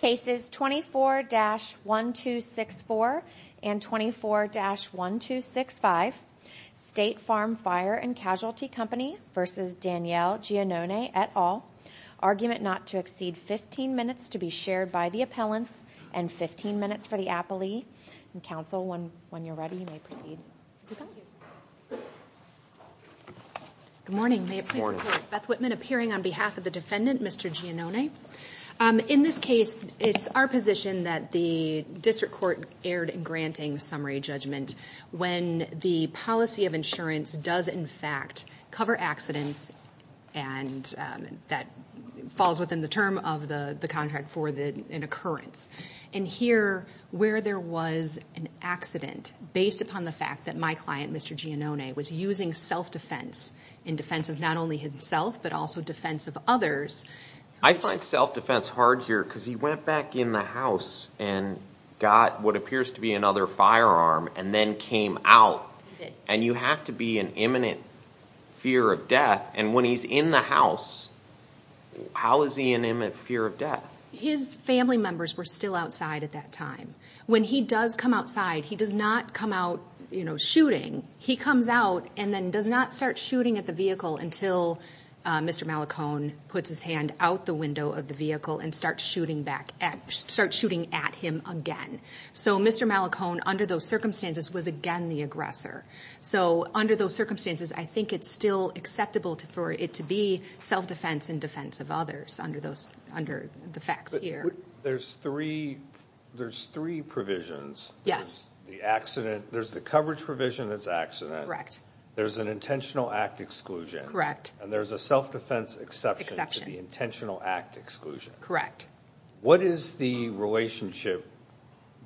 Cases 24-1264 and 24-1265, State Farm Fire and Casualty Company v. Daniele Giannone et al. Argument not to exceed 15 minutes to be shared by the appellants and 15 minutes for the appellee. Counsel, when you're ready, you may proceed. Good morning. May it please the Court. Beth Whitman appearing on behalf of the defendant, Mr. Giannone. In this case, it's our position that the district court erred in granting summary judgment when the policy of insurance does, in fact, cover accidents and that falls within the term of the contract for an occurrence. And here, where there was an accident based upon the fact that my client, Mr. Giannone, was using self-defense in defense of not only himself but also defense of others. I find self-defense hard here because he went back in the house and got what appears to be another firearm and then came out. He did. And you have to be in imminent fear of death. And when he's in the house, how is he in imminent fear of death? His family members were still outside at that time. When he does come outside, he does not come out, you know, shooting. He comes out and then does not start shooting at the vehicle until Mr. Malachone puts his hand out the window of the vehicle and starts shooting at him again. So Mr. Malachone, under those circumstances, was again the aggressor. So under those circumstances, I think it's still acceptable for it to be self-defense in defense of others under the facts here. But there's three provisions. Yes. There's the accident. There's the coverage provision that's accident. There's an intentional act exclusion. And there's a self-defense exception to the intentional act exclusion. What is the relationship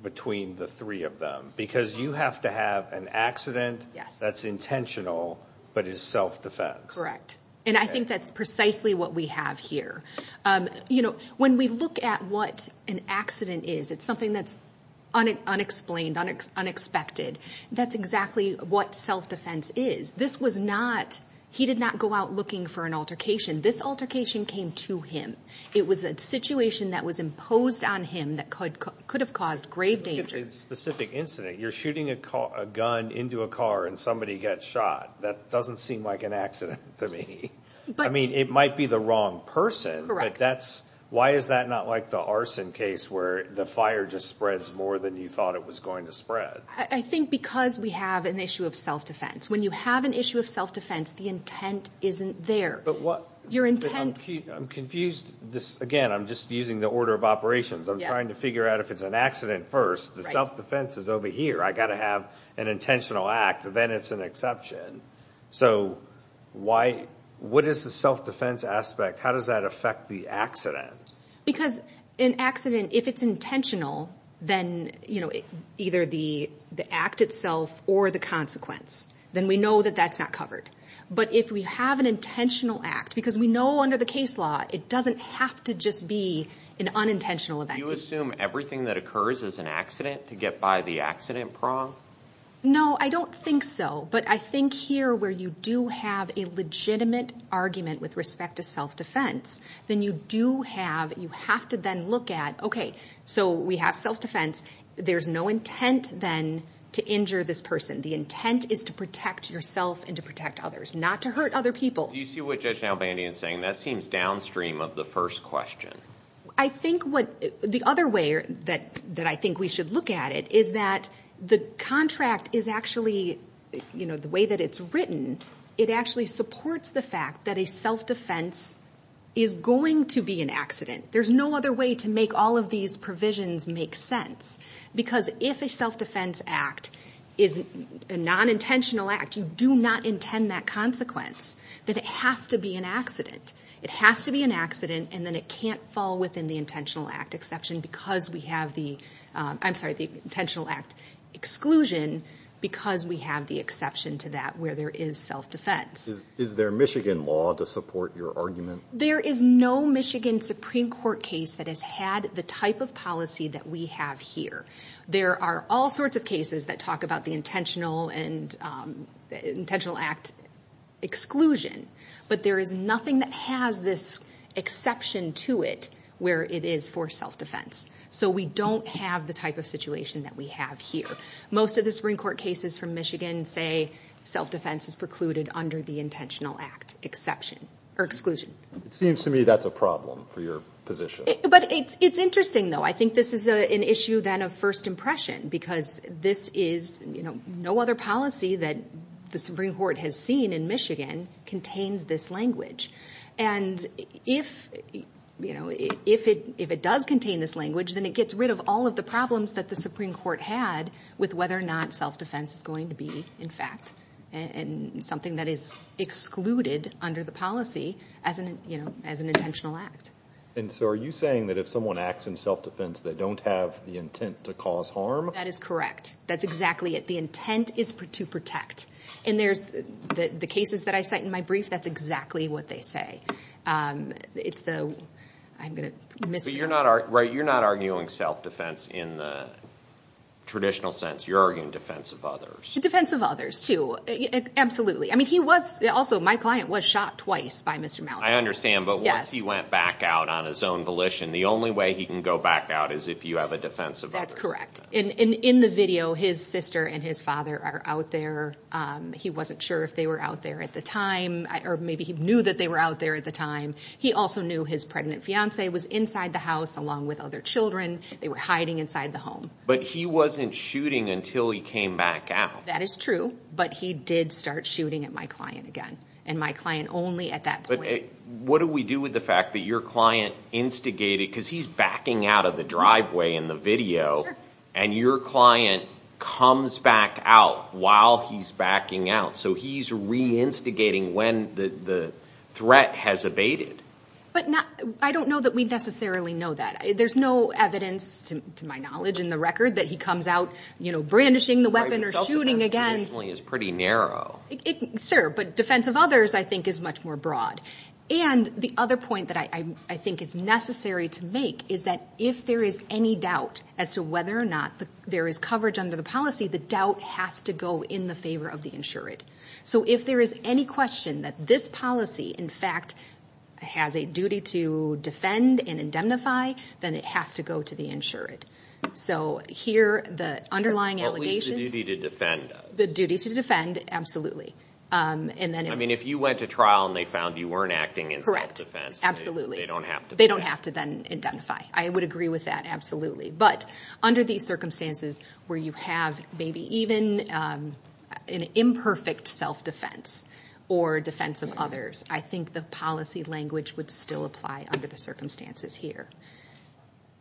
between the three of them? Because you have to have an accident that's intentional but is self-defense. Correct. And I think that's precisely what we have here. You know, when we look at what an accident is, it's something that's unexplained, unexpected. That's exactly what self-defense is. This was not – he did not go out looking for an altercation. This altercation came to him. It was a situation that was imposed on him that could have caused grave danger. If it's a specific incident, you're shooting a gun into a car and somebody gets shot. That doesn't seem like an accident to me. I mean, it might be the wrong person. Why is that not like the arson case where the fire just spreads more than you thought it was going to spread? I think because we have an issue of self-defense. When you have an issue of self-defense, the intent isn't there. But what – Your intent – I'm confused. Again, I'm just using the order of operations. I'm trying to figure out if it's an accident first. The self-defense is over here. I've got to have an intentional act. Then it's an exception. So why – what is the self-defense aspect? How does that affect the accident? Because an accident, if it's intentional, then either the act itself or the consequence. Then we know that that's not covered. But if we have an intentional act, because we know under the case law it doesn't have to just be an unintentional event. Do you assume everything that occurs is an accident to get by the accident prong? No, I don't think so. But I think here where you do have a legitimate argument with respect to self-defense, then you do have – you have to then look at, okay, so we have self-defense. There's no intent then to injure this person. The intent is to protect yourself and to protect others, not to hurt other people. Do you see what Judge Nalbandian is saying? That seems downstream of the first question. I think what – the other way that I think we should look at it is that the contract is actually – the way that it's written, it actually supports the fact that a self-defense is going to be an accident. There's no other way to make all of these provisions make sense. Because if a self-defense act is a non-intentional act, you do not intend that consequence, that it has to be an accident. It has to be an accident, and then it can't fall within the intentional act exception because we have the – I'm sorry, the intentional act exclusion because we have the exception to that where there is self-defense. Is there Michigan law to support your argument? There is no Michigan Supreme Court case that has had the type of policy that we have here. There are all sorts of cases that talk about the intentional and – intentional act exclusion. But there is nothing that has this exception to it where it is for self-defense. So we don't have the type of situation that we have here. Most of the Supreme Court cases from Michigan say self-defense is precluded under the intentional act exception – or exclusion. It seems to me that's a problem for your position. But it's interesting, though. I think this is an issue, then, of first impression because this is – no other policy that the Supreme Court has seen in Michigan contains this language. And if it does contain this language, then it gets rid of all of the problems that the Supreme Court had with whether or not self-defense is going to be, in fact, something that is excluded under the policy as an intentional act. And so are you saying that if someone acts in self-defense, they don't have the intent to cause harm? That is correct. That's exactly it. The intent is to protect. And there's – the cases that I cite in my brief, that's exactly what they say. It's the – I'm going to miss – But you're not – right? You're not arguing self-defense in the traditional sense. You're arguing defense of others. Defense of others, too. Absolutely. I mean, he was – also, my client was shot twice by Mr. Mallory. I understand. Yes. But once he went back out on his own volition, the only way he can go back out is if you have a defense of others. That's correct. And in the video, his sister and his father are out there. He wasn't sure if they were out there at the time, or maybe he knew that they were out there at the time. He also knew his pregnant fiancee was inside the house along with other children. They were hiding inside the home. But he wasn't shooting until he came back out. That is true, but he did start shooting at my client again, and my client only at that point. But what do we do with the fact that your client instigated – because he's backing out of the driveway in the video. Sure. And your client comes back out while he's backing out. So he's reinstigating when the threat has abated. But I don't know that we necessarily know that. There's no evidence, to my knowledge, in the record that he comes out brandishing the weapon or shooting again. Self-defense is pretty narrow. Sure, but defense of others, I think, is much more broad. And the other point that I think it's necessary to make is that if there is any doubt as to whether or not there is coverage under the policy, the doubt has to go in the favor of the insured. So if there is any question that this policy, in fact, has a duty to defend and indemnify, then it has to go to the insured. So here, the underlying allegations – At least the duty to defend. The duty to defend, absolutely. I mean, if you went to trial and they found you weren't acting in self-defense, they don't have to do that. They don't have to then indemnify. I would agree with that, absolutely. But under these circumstances where you have maybe even an imperfect self-defense or defense of others, I think the policy language would still apply under the circumstances here.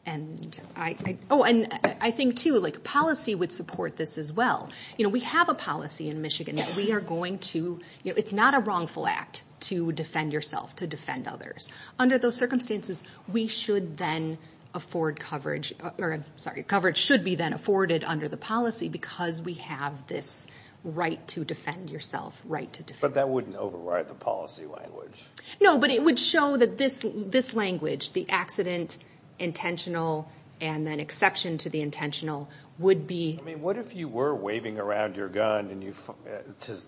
And I think, too, policy would support this as well. We have a policy in Michigan that we are going to – it's not a wrongful act to defend yourself, to defend others. Under those circumstances, we should then afford coverage – sorry, coverage should be then afforded under the policy because we have this right to defend yourself, right to defend others. But that wouldn't override the policy language. No, but it would show that this language, the accident, intentional, and then exception to the intentional would be – I mean, what if you were waving around your gun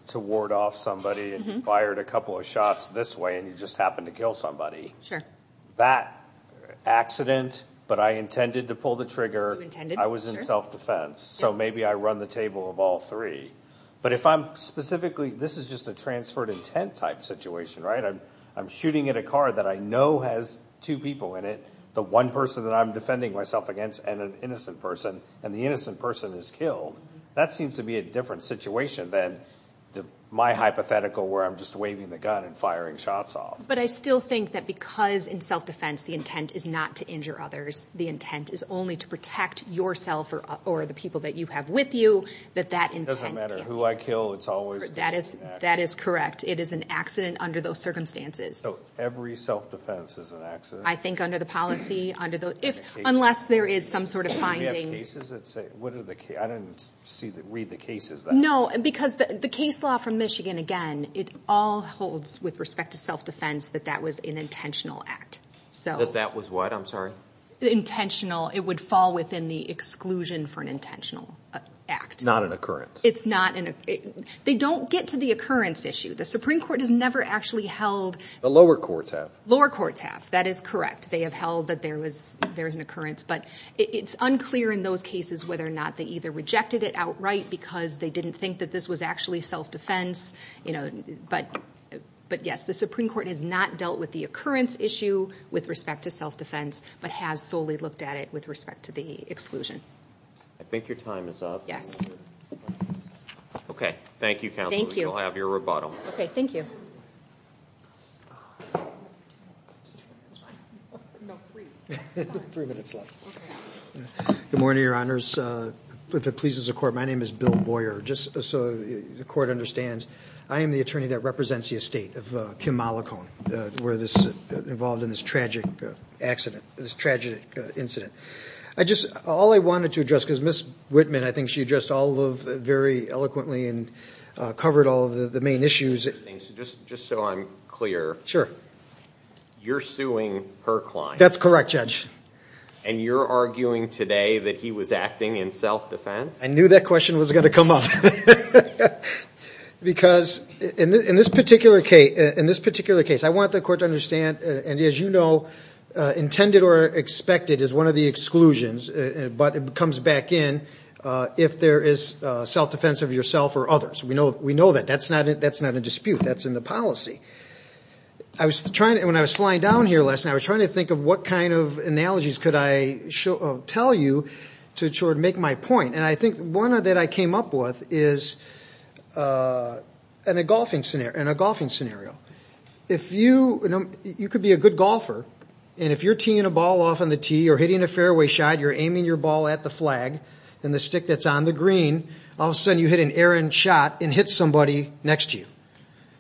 to ward off somebody and you fired a couple of shots this way and you just happened to kill somebody? Sure. That accident, but I intended to pull the trigger. You intended, sure. I was in self-defense, so maybe I run the table of all three. But if I'm specifically – this is just a transferred intent type situation, right? I'm shooting at a car that I know has two people in it, the one person that I'm defending myself against, and an innocent person, and the innocent person is killed, that seems to be a different situation than my hypothetical where I'm just waving the gun and firing shots off. But I still think that because in self-defense the intent is not to injure others, the intent is only to protect yourself or the people that you have with you, that that intent – It doesn't matter who I kill. It's always – That is correct. It is an accident under those circumstances. So every self-defense is an accident? I think under the policy, unless there is some sort of finding. Do you have cases that say – I didn't read the cases. No, because the case law from Michigan, again, it all holds with respect to self-defense that that was an intentional act. That that was what? I'm sorry? Intentional – it would fall within the exclusion for an intentional act. Not an occurrence. It's not an – they don't get to the occurrence issue. The Supreme Court has never actually held – The lower courts have. Lower courts have. That is correct. They have held that there was an occurrence, but it's unclear in those cases whether or not they either rejected it outright because they didn't think that this was actually self-defense, but yes, the Supreme Court has not dealt with the occurrence issue with respect to self-defense, but has solely looked at it with respect to the exclusion. I think your time is up. Yes. Okay. Thank you, Counselor. Thank you. You'll have your rebuttal. Okay. Thank you. Good morning, Your Honors. If it pleases the Court, my name is Bill Boyer. Just so the Court understands, I am the attorney that represents the estate of Kim Mollicone. We're involved in this tragic accident – this tragic incident. All I wanted to address, because Ms. Whitman, I think she addressed all of it very eloquently and covered all of the main issues. Just so I'm clear. Sure. You're suing her client. That's correct, Judge. And you're arguing today that he was acting in self-defense? I knew that question was going to come up. Because in this particular case, I want the Court to understand, and as you know, intended or expected is one of the exclusions, but it comes back in if there is self-defense of yourself or others. We know that. That's not a dispute. That's in the policy. When I was flying down here last night, I was trying to think of what kind of analogies could I tell you to make my point. And I think one that I came up with is in a golfing scenario. You could be a good golfer, and if you're teeing a ball off on the tee or hitting a fairway shot, you're aiming your ball at the flag, and the stick that's on the green, all of a sudden you hit an errant shot and hit somebody next to you.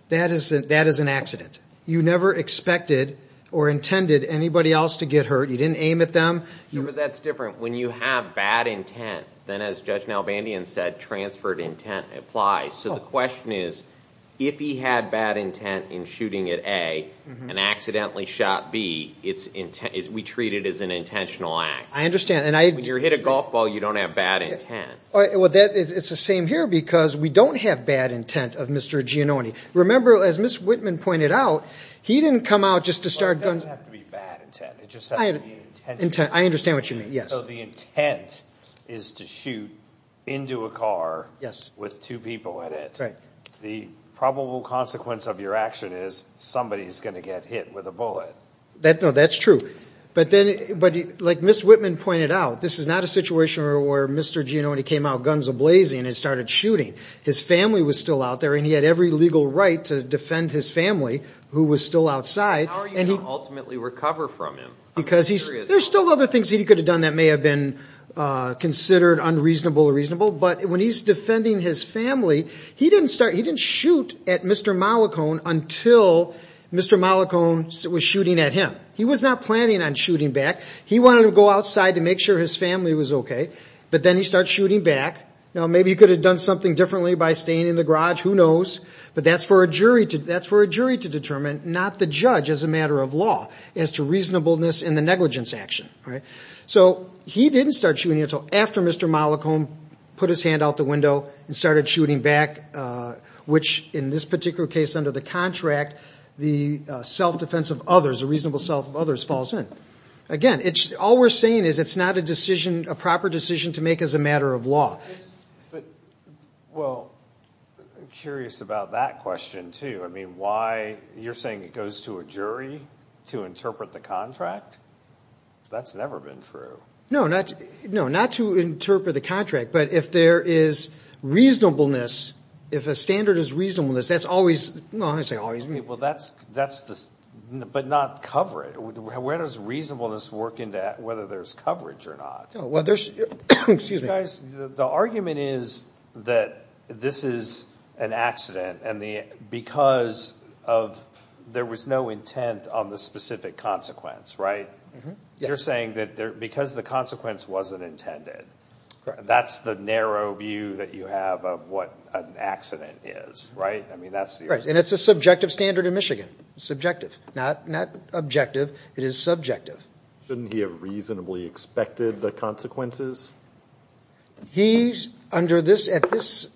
That is an accident. You never expected or intended anybody else to get hurt. You didn't aim at them. But that's different. When you have bad intent, then as Judge Nalbandian said, transferred intent applies. So the question is, if he had bad intent in shooting at A and accidentally shot B, we treat it as an intentional act. I understand. When you hit a golf ball, you don't have bad intent. It's the same here because we don't have bad intent of Mr. Giannone. Remember, as Ms. Whitman pointed out, he didn't come out just to start guns. It doesn't have to be bad intent. It just has to be intent. I understand what you mean, yes. So the intent is to shoot into a car with two people in it. Right. The probable consequence of your action is somebody is going to get hit with a bullet. No, that's true. But like Ms. Whitman pointed out, this is not a situation where Mr. Giannone came out guns a-blazing and started shooting. His family was still out there, and he had every legal right to defend his family who was still outside. How are you going to ultimately recover from him? There are still other things he could have done that may have been considered unreasonable or reasonable. But when he's defending his family, he didn't shoot at Mr. Mollicone until Mr. Mollicone was shooting at him. He was not planning on shooting back. He wanted to go outside to make sure his family was okay, but then he starts shooting back. Now, maybe he could have done something differently by staying in the garage. Who knows? But that's for a jury to determine, not the judge as a matter of law, as to reasonableness in the negligence action. So he didn't start shooting until after Mr. Mollicone put his hand out the window and started shooting back, which, in this particular case, under the contract, the self-defense of others, the reasonable self of others, falls in. Again, all we're saying is it's not a decision, a proper decision to make as a matter of law. Well, I'm curious about that question, too. You're saying it goes to a jury to interpret the contract? That's never been true. No, not to interpret the contract, but if there is reasonableness, if a standard is reasonableness, that's always – Well, that's the – but not coverage. Where does reasonableness work into whether there's coverage or not? Well, there's – excuse me. Guys, the argument is that this is an accident, and because of – there was no intent on the specific consequence, right? You're saying that because the consequence wasn't intended, that's the narrow view that you have of what an accident is, right? I mean, that's – Right, and it's a subjective standard in Michigan. Subjective. Not objective. It is subjective. Shouldn't he have reasonably expected the consequences? He, under this – at this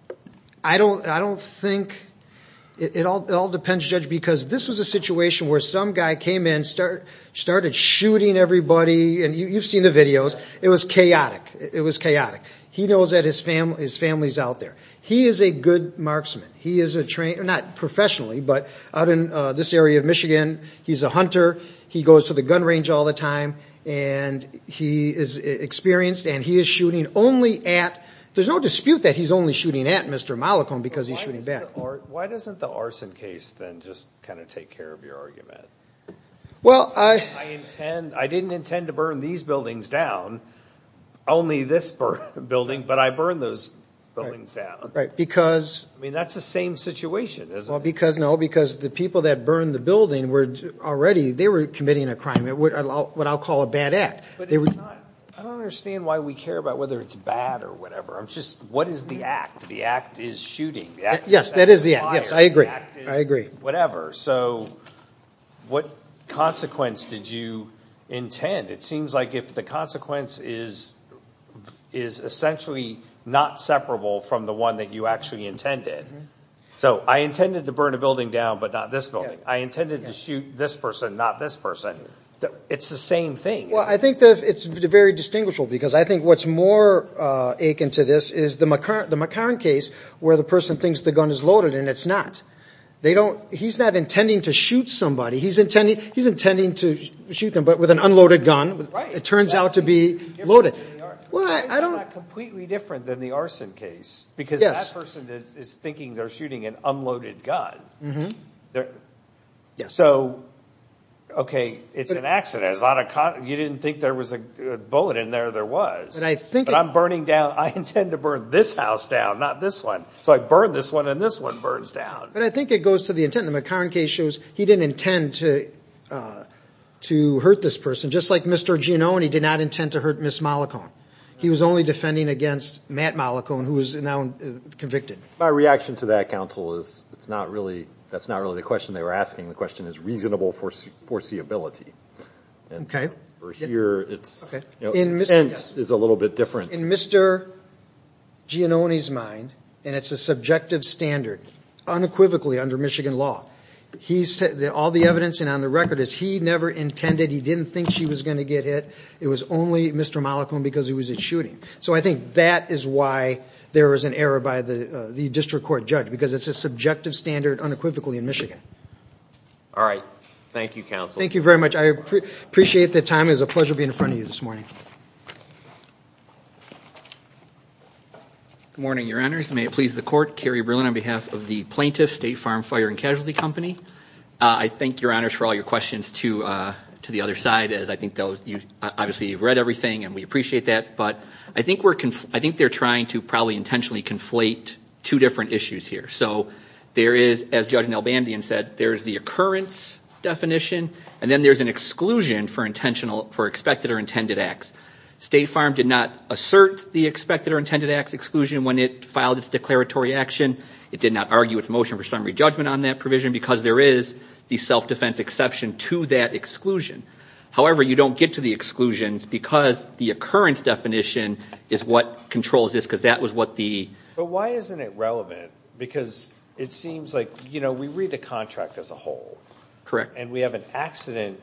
– I don't think – it all depends, Judge, because this was a situation where some guy came in, started shooting everybody, and you've seen the videos. It was chaotic. It was chaotic. He knows that his family is out there. He is a good marksman. He is a – not professionally, but out in this area of Michigan, he's a hunter. He goes to the gun range all the time, and he is experienced, and he is shooting only at – there's no dispute that he's only shooting at Mr. Mollicone because he's shooting back. Why doesn't the arson case then just kind of take care of your argument? Well, I – I intend – I didn't intend to burn these buildings down, only this building, but I burned those buildings down. Right, because – I mean, that's the same situation, isn't it? Well, because – no, because the people that burned the building were already – they were committing a crime, what I'll call a bad act. But it's not – I don't understand why we care about whether it's bad or whatever. It's just what is the act? The act is shooting. Yes, that is the act. Yes, I agree. I agree. Whatever. So what consequence did you intend? It seems like if the consequence is essentially not separable from the one that you actually intended. So I intended to burn a building down, but not this building. I intended to shoot this person, not this person. It's the same thing. Well, I think it's very distinguishable because I think what's more akin to this is the McCarran case where the person thinks the gun is loaded and it's not. They don't – he's not intending to shoot somebody. He's intending to shoot them, but with an unloaded gun. Right. It turns out to be loaded. Well, I don't – Yes. Because that person is thinking they're shooting an unloaded gun. Yes. So, okay, it's an accident. You didn't think there was a bullet in there. There was. But I'm burning down – I intend to burn this house down, not this one. So I burn this one and this one burns down. But I think it goes to the intent. The McCarran case shows he didn't intend to hurt this person. Just like Mr. Giannone did not intend to hurt Ms. Mollicone. He was only defending against Matt Mollicone, who is now convicted. My reaction to that, counsel, is it's not really – that's not really the question they were asking. The question is reasonable foreseeability. Okay. Over here, it's – intent is a little bit different. In Mr. Giannone's mind, and it's a subjective standard, unequivocally under Michigan law, all the evidence and on the record is he never intended – he didn't think she was going to get hit. It was only Mr. Mollicone because it was a shooting. So I think that is why there was an error by the district court judge, because it's a subjective standard unequivocally in Michigan. All right. Thank you, counsel. Thank you very much. I appreciate the time. It was a pleasure being in front of you this morning. Good morning, Your Honors. May it please the Court, Kerry Berlin on behalf of the Plaintiff State Farm Fire and Casualty Company. I thank Your Honors for all your questions to the other side, as I think those – obviously you've read everything and we appreciate that, but I think we're – I think they're trying to probably intentionally conflate two different issues here. So there is, as Judge Nelbandian said, there is the occurrence definition, and then there's an exclusion for expected or intended acts. State Farm did not assert the expected or intended acts exclusion when it filed its declaratory action. It did not argue its motion for summary judgment on that provision, because there is the self-defense exception to that exclusion. However, you don't get to the exclusions because the occurrence definition is what controls this, because that was what the – But why isn't it relevant? Because it seems like, you know, we read the contract as a whole. Correct. And we have an accident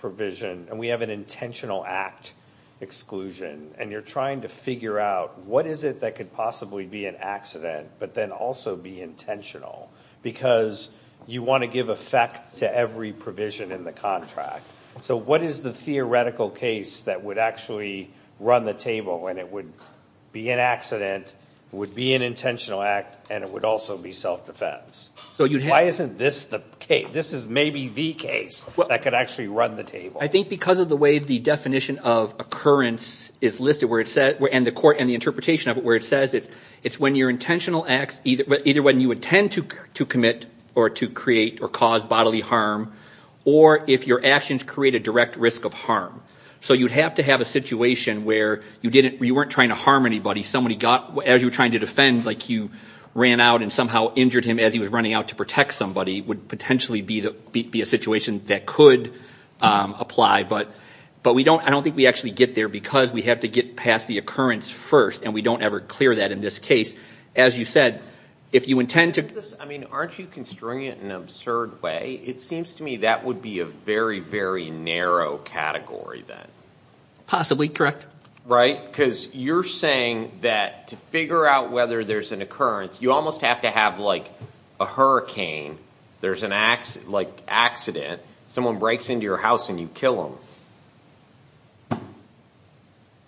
provision, and we have an intentional act exclusion, and you're trying to figure out what is it that could possibly be an accident, but then also be intentional, because you want to give effect to every provision in the contract. So what is the theoretical case that would actually run the table when it would be an accident, would be an intentional act, and it would also be self-defense? Why isn't this the case? This is maybe the case that could actually run the table. I think because of the way the definition of occurrence is listed, and the interpretation of it where it says it's when your intentional acts, either when you intend to commit or to create or cause bodily harm, or if your actions create a direct risk of harm. So you'd have to have a situation where you weren't trying to harm anybody. Somebody got, as you were trying to defend, like you ran out and somehow injured him as he was running out to protect somebody, would potentially be a situation that could apply, but I don't think we actually get there because we have to get past the occurrence first, and we don't ever clear that in this case. As you said, if you intend to... Aren't you constraining it in an absurd way? It seems to me that would be a very, very narrow category then. Possibly, correct. Right, because you're saying that to figure out whether there's an occurrence, you almost have to have like a hurricane, there's an accident, someone breaks into your house and you kill them.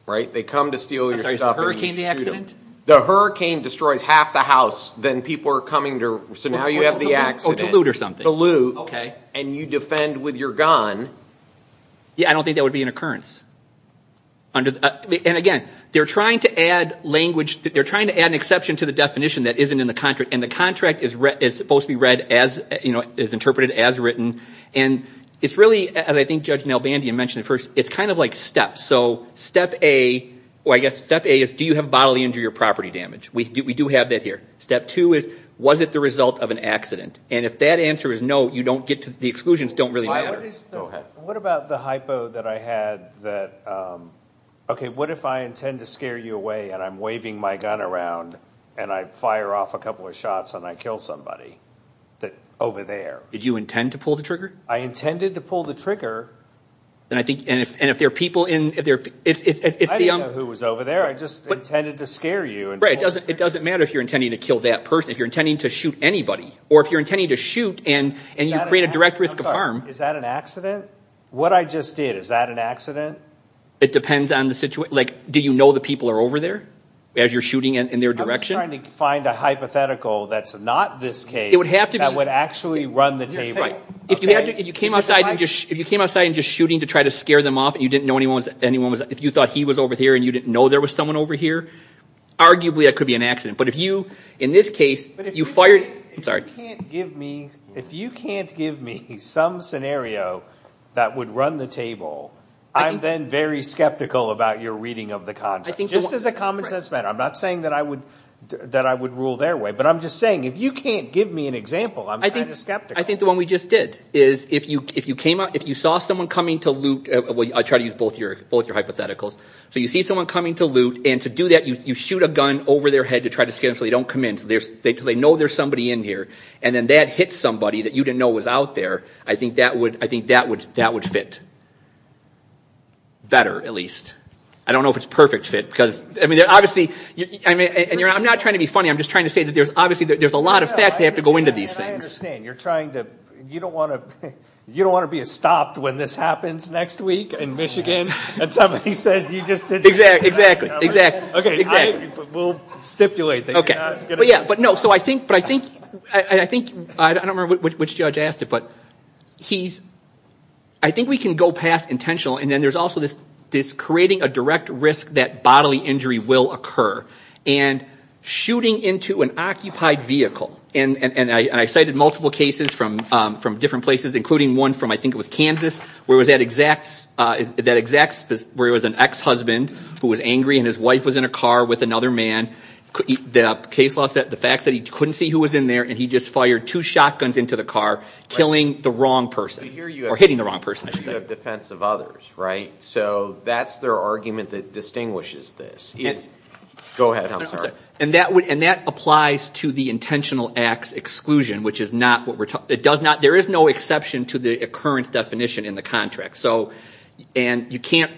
They come to steal your stuff and you shoot them. Is the hurricane the accident? The hurricane destroys half the house, then people are coming to... So now you have the accident. To loot or something. To loot, and you defend with your gun. Yeah, I don't think that would be an occurrence. And again, they're trying to add language. They're trying to add an exception to the definition that isn't in the contract, and the contract is supposed to be read as interpreted, as written. And it's really, as I think Judge Nalbandian mentioned at first, it's kind of like steps. So step A is do you have bodily injury or property damage? We do have that here. Step two is was it the result of an accident? And if that answer is no, the exclusions don't really matter. What about the hypo that I had that, okay, what if I intend to scare you away and I'm waving my gun around and I fire off a couple of shots and I kill somebody over there? Did you intend to pull the trigger? I intended to pull the trigger. And if there are people in... I didn't know who was over there. I just intended to scare you. It doesn't matter if you're intending to kill that person, if you're intending to shoot anybody, or if you're intending to shoot and you create a direct risk of harm. Is that an accident? What I just did, is that an accident? It depends on the situation. Like, do you know the people are over there as you're shooting in their direction? I'm just trying to find a hypothetical that's not this case that would actually run the table. If you came outside and just shooting to try to scare them off and you didn't know anyone was... If you thought he was over here and you didn't know there was someone over here, arguably that could be an accident. But if you, in this case, you fired... If you can't give me some scenario that would run the table, I'm then very skeptical about your reading of the context. Just as a common sense matter. I'm not saying that I would rule their way, but I'm just saying, if you can't give me an example, I'm kind of skeptical. I think the one we just did is, if you saw someone coming to loot... I'll try to use both your hypotheticals. So you see someone coming to loot, and to do that, you shoot a gun over their head to try to scare them so they don't come in. So they know there's somebody in here, and then that hits somebody that you didn't know was out there. I think that would fit. Better, at least. I don't know if it's a perfect fit. I'm not trying to be funny. I'm just trying to say that there's a lot of facts that have to go into these things. I understand. You don't want to be stopped when this happens next week in Michigan and somebody says you just did that. Exactly. We'll stipulate that you're not going to do this. I don't remember which judge asked it, but I think we can go past intentional, and then there's also this creating a direct risk that bodily injury will occur, and shooting into an occupied vehicle. I cited multiple cases from different places, including one from, I think it was Kansas, where it was an ex-husband who was angry and his wife was in a car with another man. The case law said the fact that he couldn't see who was in there and he just fired two shotguns into the car, killing the wrong person, or hitting the wrong person, I should say. You have defense of others, right? So that's their argument that distinguishes this. Go ahead, I'm sorry. And that applies to the intentional acts exclusion, which is not what we're talking about. There is no exception to the occurrence definition in the contract. And you can't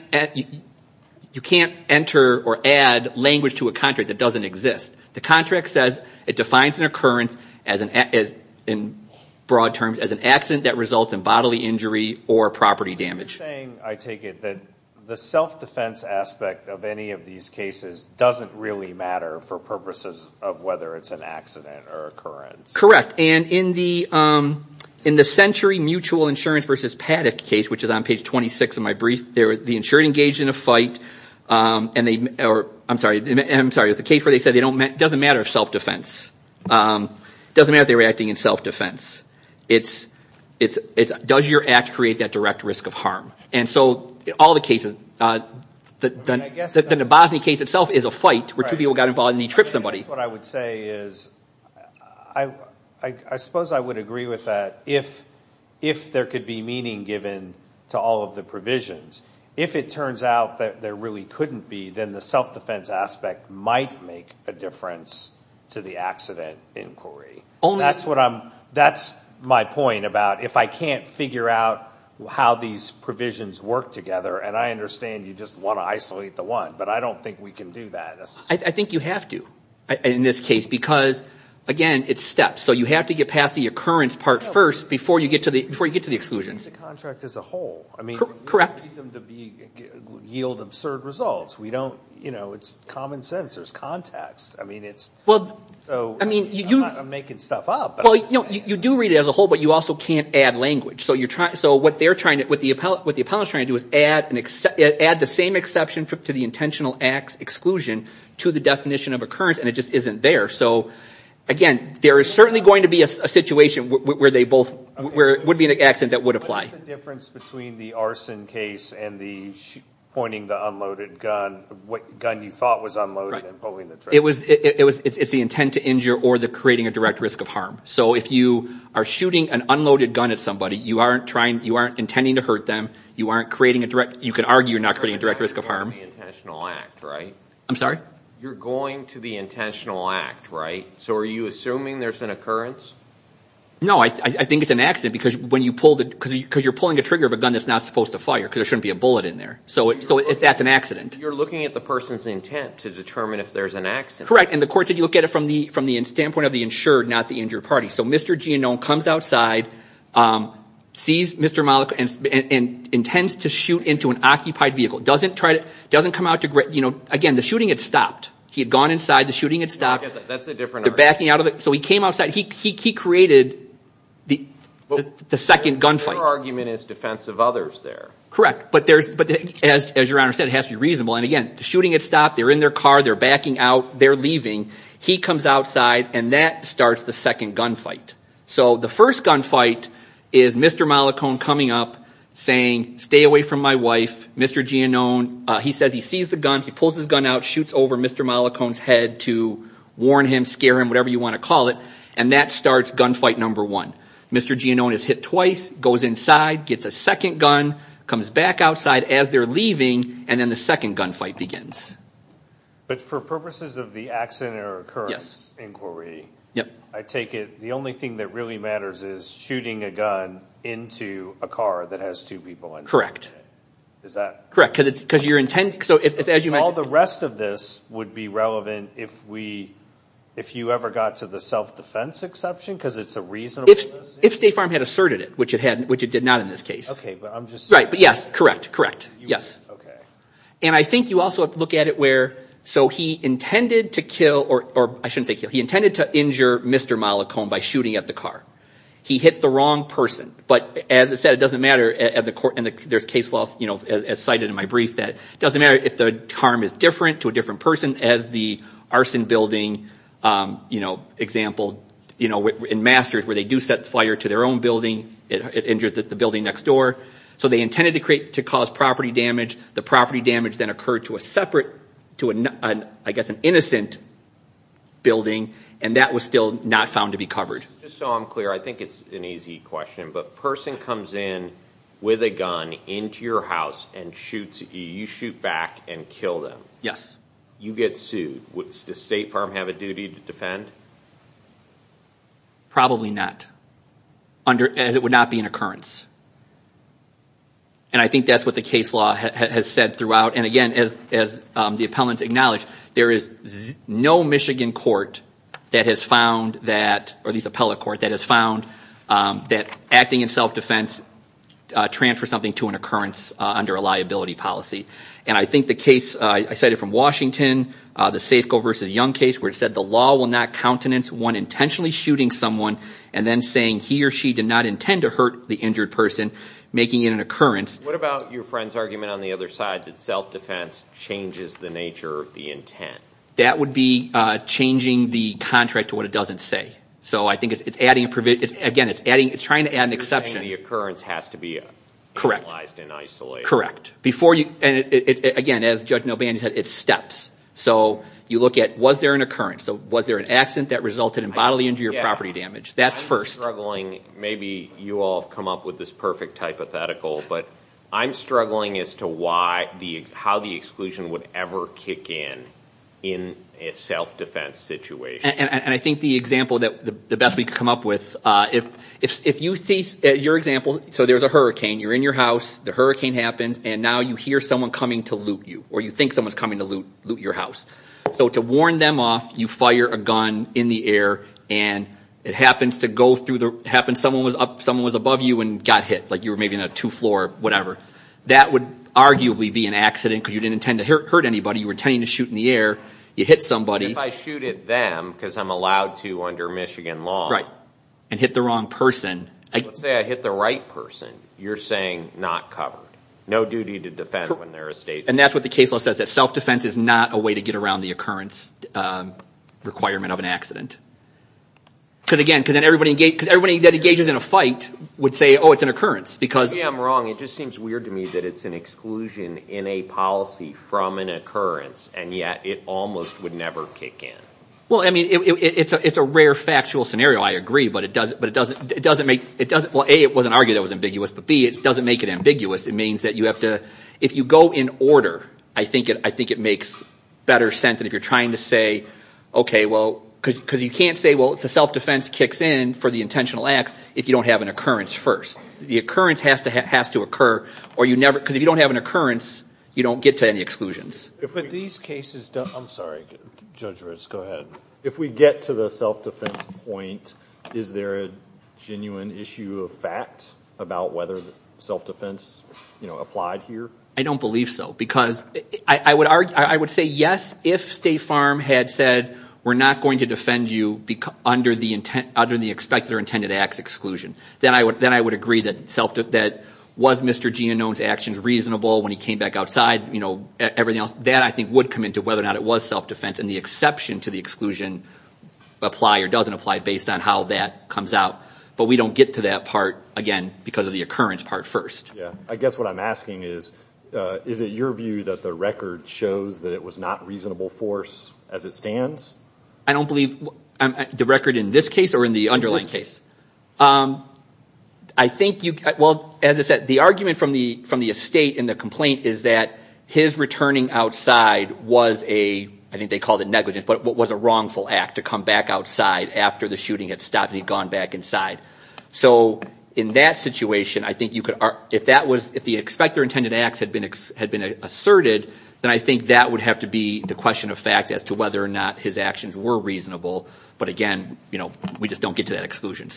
enter or add language to a contract that doesn't exist. The contract says it defines an occurrence, in broad terms, as an accident that results in bodily injury or property damage. You're saying, I take it, that the self-defense aspect of any of these cases doesn't really matter for purposes of whether it's an accident or occurrence. Correct. And in the Century Mutual Insurance v. Paddock case, which is on page 26 of my brief, the insured engaged in a fight, and they, I'm sorry, it was a case where they said it doesn't matter if self-defense, it doesn't matter if they were acting in self-defense. It's does your act create that direct risk of harm? And so all the cases, the Bosney case itself is a fight where two people got involved and they tripped somebody. I guess what I would say is, I suppose I would agree with that. If there could be meaning given to all of the provisions, if it turns out that there really couldn't be, then the self-defense aspect might make a difference to the accident inquiry. That's my point about if I can't figure out how these provisions work together, and I understand you just want to isolate the one, but I don't think we can do that. I think you have to, in this case, because, again, it's steps. So you have to get past the occurrence part first before you get to the exclusions. Read the contract as a whole. Correct. We don't need them to yield absurd results. It's common sense. There's context. I'm not making stuff up. You do read it as a whole, but you also can't add language. So what the appellant is trying to do is add the same exception to the intentional acts exclusion to the definition of occurrence, and it just isn't there. So, again, there is certainly going to be a situation where it would be an accident that would apply. What's the difference between the arson case and pointing the unloaded gun, what gun you thought was unloaded and pulling the trigger? It's the intent to injure or the creating a direct risk of harm. So if you are shooting an unloaded gun at somebody, you aren't intending to hurt them. You can argue you're not creating a direct risk of harm. You're going to the intentional act, right? I'm sorry? You're going to the intentional act, right? So are you assuming there's an occurrence? No, I think it's an accident, because you're pulling the trigger of a gun that's not supposed to fire because there shouldn't be a bullet in there. So that's an accident. You're looking at the person's intent to determine if there's an accident. Correct, and the court said you look at it from the standpoint of the insured, not the injured party. So Mr. Gianone comes outside, sees Mr. Malico, and intends to shoot into an occupied vehicle. Again, the shooting had stopped. He had gone inside. The shooting had stopped. That's a different argument. So he came outside. He created the second gunfight. Your argument is defense of others there. Correct, but as Your Honor said, it has to be reasonable. And again, the shooting had stopped. They're in their car. They're backing out. They're leaving. He comes outside, and that starts the second gunfight. So the first gunfight is Mr. Malicone coming up saying, stay away from my wife, Mr. Gianone. He says he sees the gun. He pulls his gun out, shoots over Mr. Malicone's head to warn him, scare him, whatever you want to call it. And that starts gunfight number one. Mr. Gianone is hit twice, goes inside, gets a second gun, comes back outside as they're leaving, and then the second gunfight begins. But for purposes of the accident or occurrence inquiry, I take it the only thing that really matters is shooting a gun into a car that has two people in it. Is that? Correct, because you're intending, so as you mentioned. All the rest of this would be relevant if we, if you ever got to the self-defense exception because it's a reasonable decision? If State Farm had asserted it, which it did not in this case. Okay, but I'm just saying. Right, but yes, correct, correct, yes. Okay. And I think you also have to look at it where, so he intended to kill, or I shouldn't say kill. He intended to injure Mr. Mollicone by shooting at the car. He hit the wrong person. But as I said, it doesn't matter, and there's case law, as cited in my brief, that it doesn't matter if the harm is different to a different person. As the arson building example in Masters where they do set fire to their own building, it injures the building next door. So they intended to cause property damage. The property damage then occurred to a separate, to I guess an innocent building, and that was still not found to be covered. Just so I'm clear, I think it's an easy question, but a person comes in with a gun into your house and shoots, you shoot back and kill them. Yes. You get sued. Does State Farm have a duty to defend? Probably not. It would not be an occurrence. And I think that's what the case law has said throughout. And again, as the appellants acknowledge, there is no Michigan court that has found that, or at least appellate court, that has found that acting in self-defense transfers something to an occurrence under a liability policy. And I think the case, I cite it from Washington, the Safeco v. Young case where it said the law will not countenance one intentionally shooting someone and then saying he or she did not intend to hurt the injured person, making it an occurrence. What about your friend's argument on the other side, that self-defense changes the nature of the intent? That would be changing the contract to what it doesn't say. So I think it's adding, again, it's trying to add an exception. You're saying the occurrence has to be analyzed and isolated. Correct. And again, as Judge Nobandy said, it's steps. So you look at was there an occurrence? So was there an accident that resulted in bodily injury or property damage? That's first. I'm struggling, maybe you all have come up with this perfect hypothetical, but I'm struggling as to how the exclusion would ever kick in in a self-defense situation. And I think the example, the best we could come up with, if you see your example, so there's a hurricane, you're in your house, the hurricane happens, and now you hear someone coming to loot you or you think someone's coming to loot your house. So to warn them off, you fire a gun in the air, and it happens someone was above you and got hit, like you were maybe on a two-floor whatever. That would arguably be an accident because you didn't intend to hurt anybody. You were intending to shoot in the air. You hit somebody. If I shoot at them because I'm allowed to under Michigan law. Right. And hit the wrong person. Let's say I hit the right person. You're saying not covered. No duty to defend when there are statesmen. And that's what the case law says, that self-defense is not a way to get around the occurrence requirement of an accident. Because, again, everybody that engages in a fight would say, oh, it's an occurrence. See, I'm wrong. It just seems weird to me that it's an exclusion in a policy from an occurrence, and yet it almost would never kick in. Well, I mean, it's a rare factual scenario, I agree, but it doesn't make, well, A, it wasn't argued that it was ambiguous, but B, it doesn't make it ambiguous. It means that you have to, if you go in order, I think it makes better sense than if you're trying to say, okay, well, because you can't say, well, self-defense kicks in for the intentional acts if you don't have an occurrence first. The occurrence has to occur, because if you don't have an occurrence, you don't get to any exclusions. But these cases, I'm sorry, Judge Ritz, go ahead. If we get to the self-defense point, is there a genuine issue of fact about whether self-defense applied here? I don't believe so, because I would say yes, if State Farm had said we're not going to defend you under the expected or intended acts exclusion. Then I would agree that was Mr. Gianone's actions reasonable when he came back outside, everything else, that I think would come into whether or not it was self-defense, and the exception to the exclusion apply or doesn't apply based on how that comes out. But we don't get to that part, again, because of the occurrence part first. Yeah. I guess what I'm asking is, is it your view that the record shows that it was not reasonable force as it stands? I don't believe the record in this case or in the underlying case? In this case. I think you, well, as I said, the argument from the estate in the complaint is that his returning outside was a, I think they called it negligence, but was a wrongful act to come back outside after the shooting had stopped and he had gone back inside. So in that situation, I think you could, if that was, if the expected or intended acts had been asserted, then I think that would have to be the question of fact as to whether or not his actions were reasonable. But, again, we just don't get to that exclusion.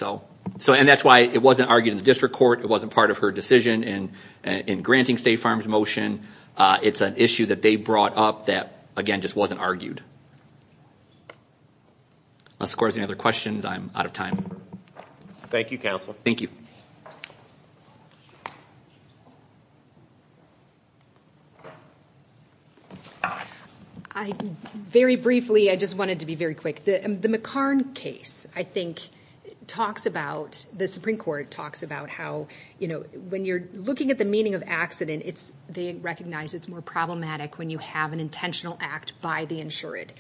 And that's why it wasn't argued in the district court. It wasn't part of her decision in granting State Farm's motion. It's an issue that they brought up that, again, just wasn't argued. Unless the court has any other questions, I'm out of time. Thank you, Counsel. Thank you. I, very briefly, I just wanted to be very quick. The McCarn case, I think, talks about, the Supreme Court talks about how, you know, when you're looking at the meaning of accident, they recognize it's more problematic when you have an intentional act by the insured.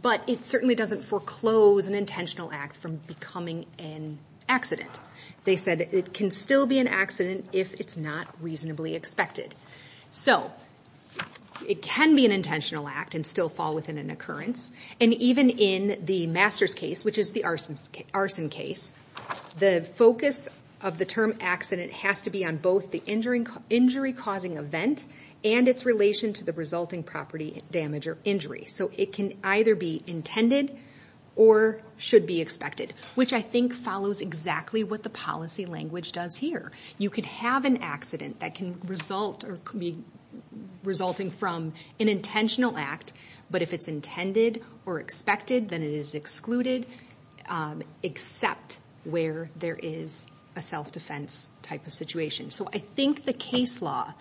But it certainly doesn't foreclose an intentional act from becoming an accident. They said it can still be an accident if it's not reasonably expected. So it can be an intentional act and still fall within an occurrence. And even in the Masters case, which is the arson case, the focus of the term accident has to be on both the injury-causing event and its relation to the resulting property damage or injury. So it can either be intended or should be expected, which I think follows exactly what the policy language does here. You could have an accident that can result or could be resulting from an intentional act, but if it's intended or expected, then it is excluded, except where there is a self-defense type of situation. So I think the case law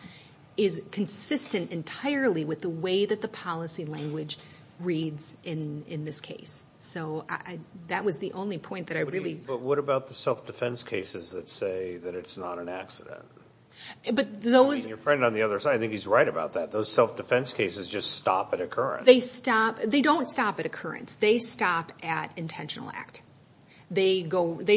is consistent entirely with the way that the policy language reads in this case. So that was the only point that I really... But what about the self-defense cases that say that it's not an accident? Your friend on the other side, I think he's right about that. Those self-defense cases just stop at occurrence. They don't stop at occurrence. They stop at intentional act. They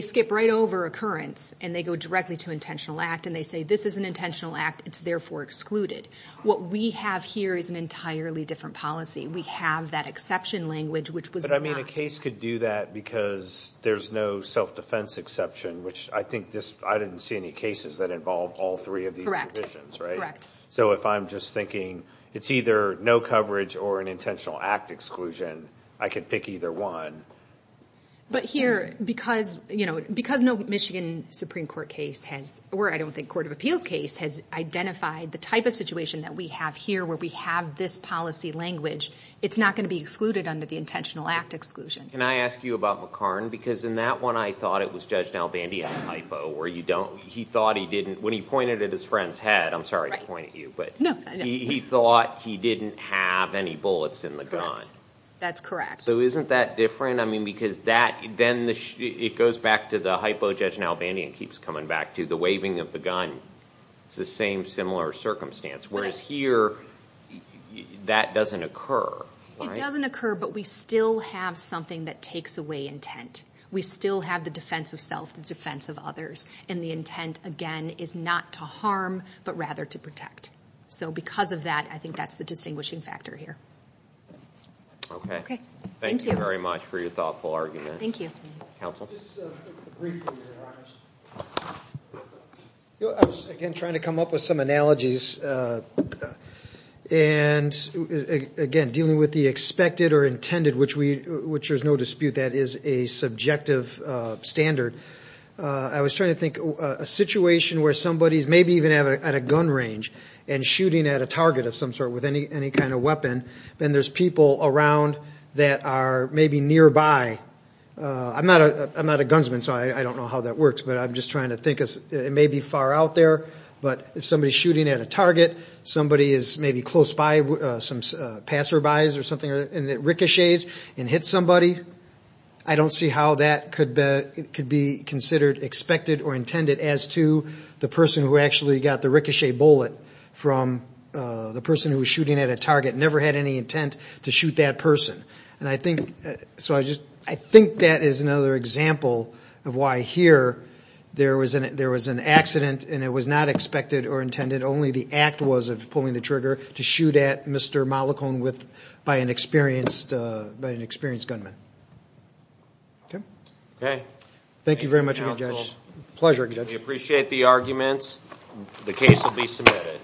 skip right over occurrence and they go directly to intentional act and they say this is an intentional act, it's therefore excluded. What we have here is an entirely different policy. We have that exception language, which was not... But, I mean, a case could do that because there's no self-defense exception, which I think this... I didn't see any cases that involved all three of these provisions, right? So if I'm just thinking it's either no coverage or an intentional act exclusion, I could pick either one. But here, because no Michigan Supreme Court case has... Or I don't think court of appeals case has identified the type of situation that we have here where we have this policy language, it's not going to be excluded under the intentional act exclusion. Can I ask you about McCarn? Because in that one, I thought it was Judge Nalbandian's hypo, where he thought he didn't... When he pointed at his friend's head, I'm sorry to point at you, but he thought he didn't have any bullets in the gun. Correct. That's correct. So isn't that different? I mean, because then it goes back to the hypo Judge Nalbandian keeps coming back to, the waving of the gun. It's the same similar circumstance. Whereas here, that doesn't occur. It doesn't occur, but we still have something that takes away intent. We still have the defense of self, the defense of others. And the intent, again, is not to harm, but rather to protect. So because of that, I think that's the distinguishing factor here. Okay. Thank you. Thank you very much for your thoughtful argument. Thank you. Counsel? Just briefly, to be honest. I was, again, trying to come up with some analogies. And, again, dealing with the expected or intended, which there's no dispute, that is a subjective standard. I was trying to think a situation where somebody is maybe even at a gun range and shooting at a target of some sort with any kind of weapon, and there's people around that are maybe nearby. I'm not a gunsman, so I don't know how that works, but I'm just trying to think. It may be far out there, but if somebody is shooting at a target, somebody is maybe close by, some passerbys or something, and it ricochets and hits somebody, I don't see how that could be considered expected or intended as to the person who actually got the ricochet bullet from the person who was shooting at a target and never had any intent to shoot that person. So I think that is another example of why here there was an accident and it was not expected or intended. Only the act was of pulling the trigger to shoot at Mr. Mollicone by an experienced gunman. Okay? Thank you very much again, Judge. Pleasure, Judge. We appreciate the arguments. The case will be submitted.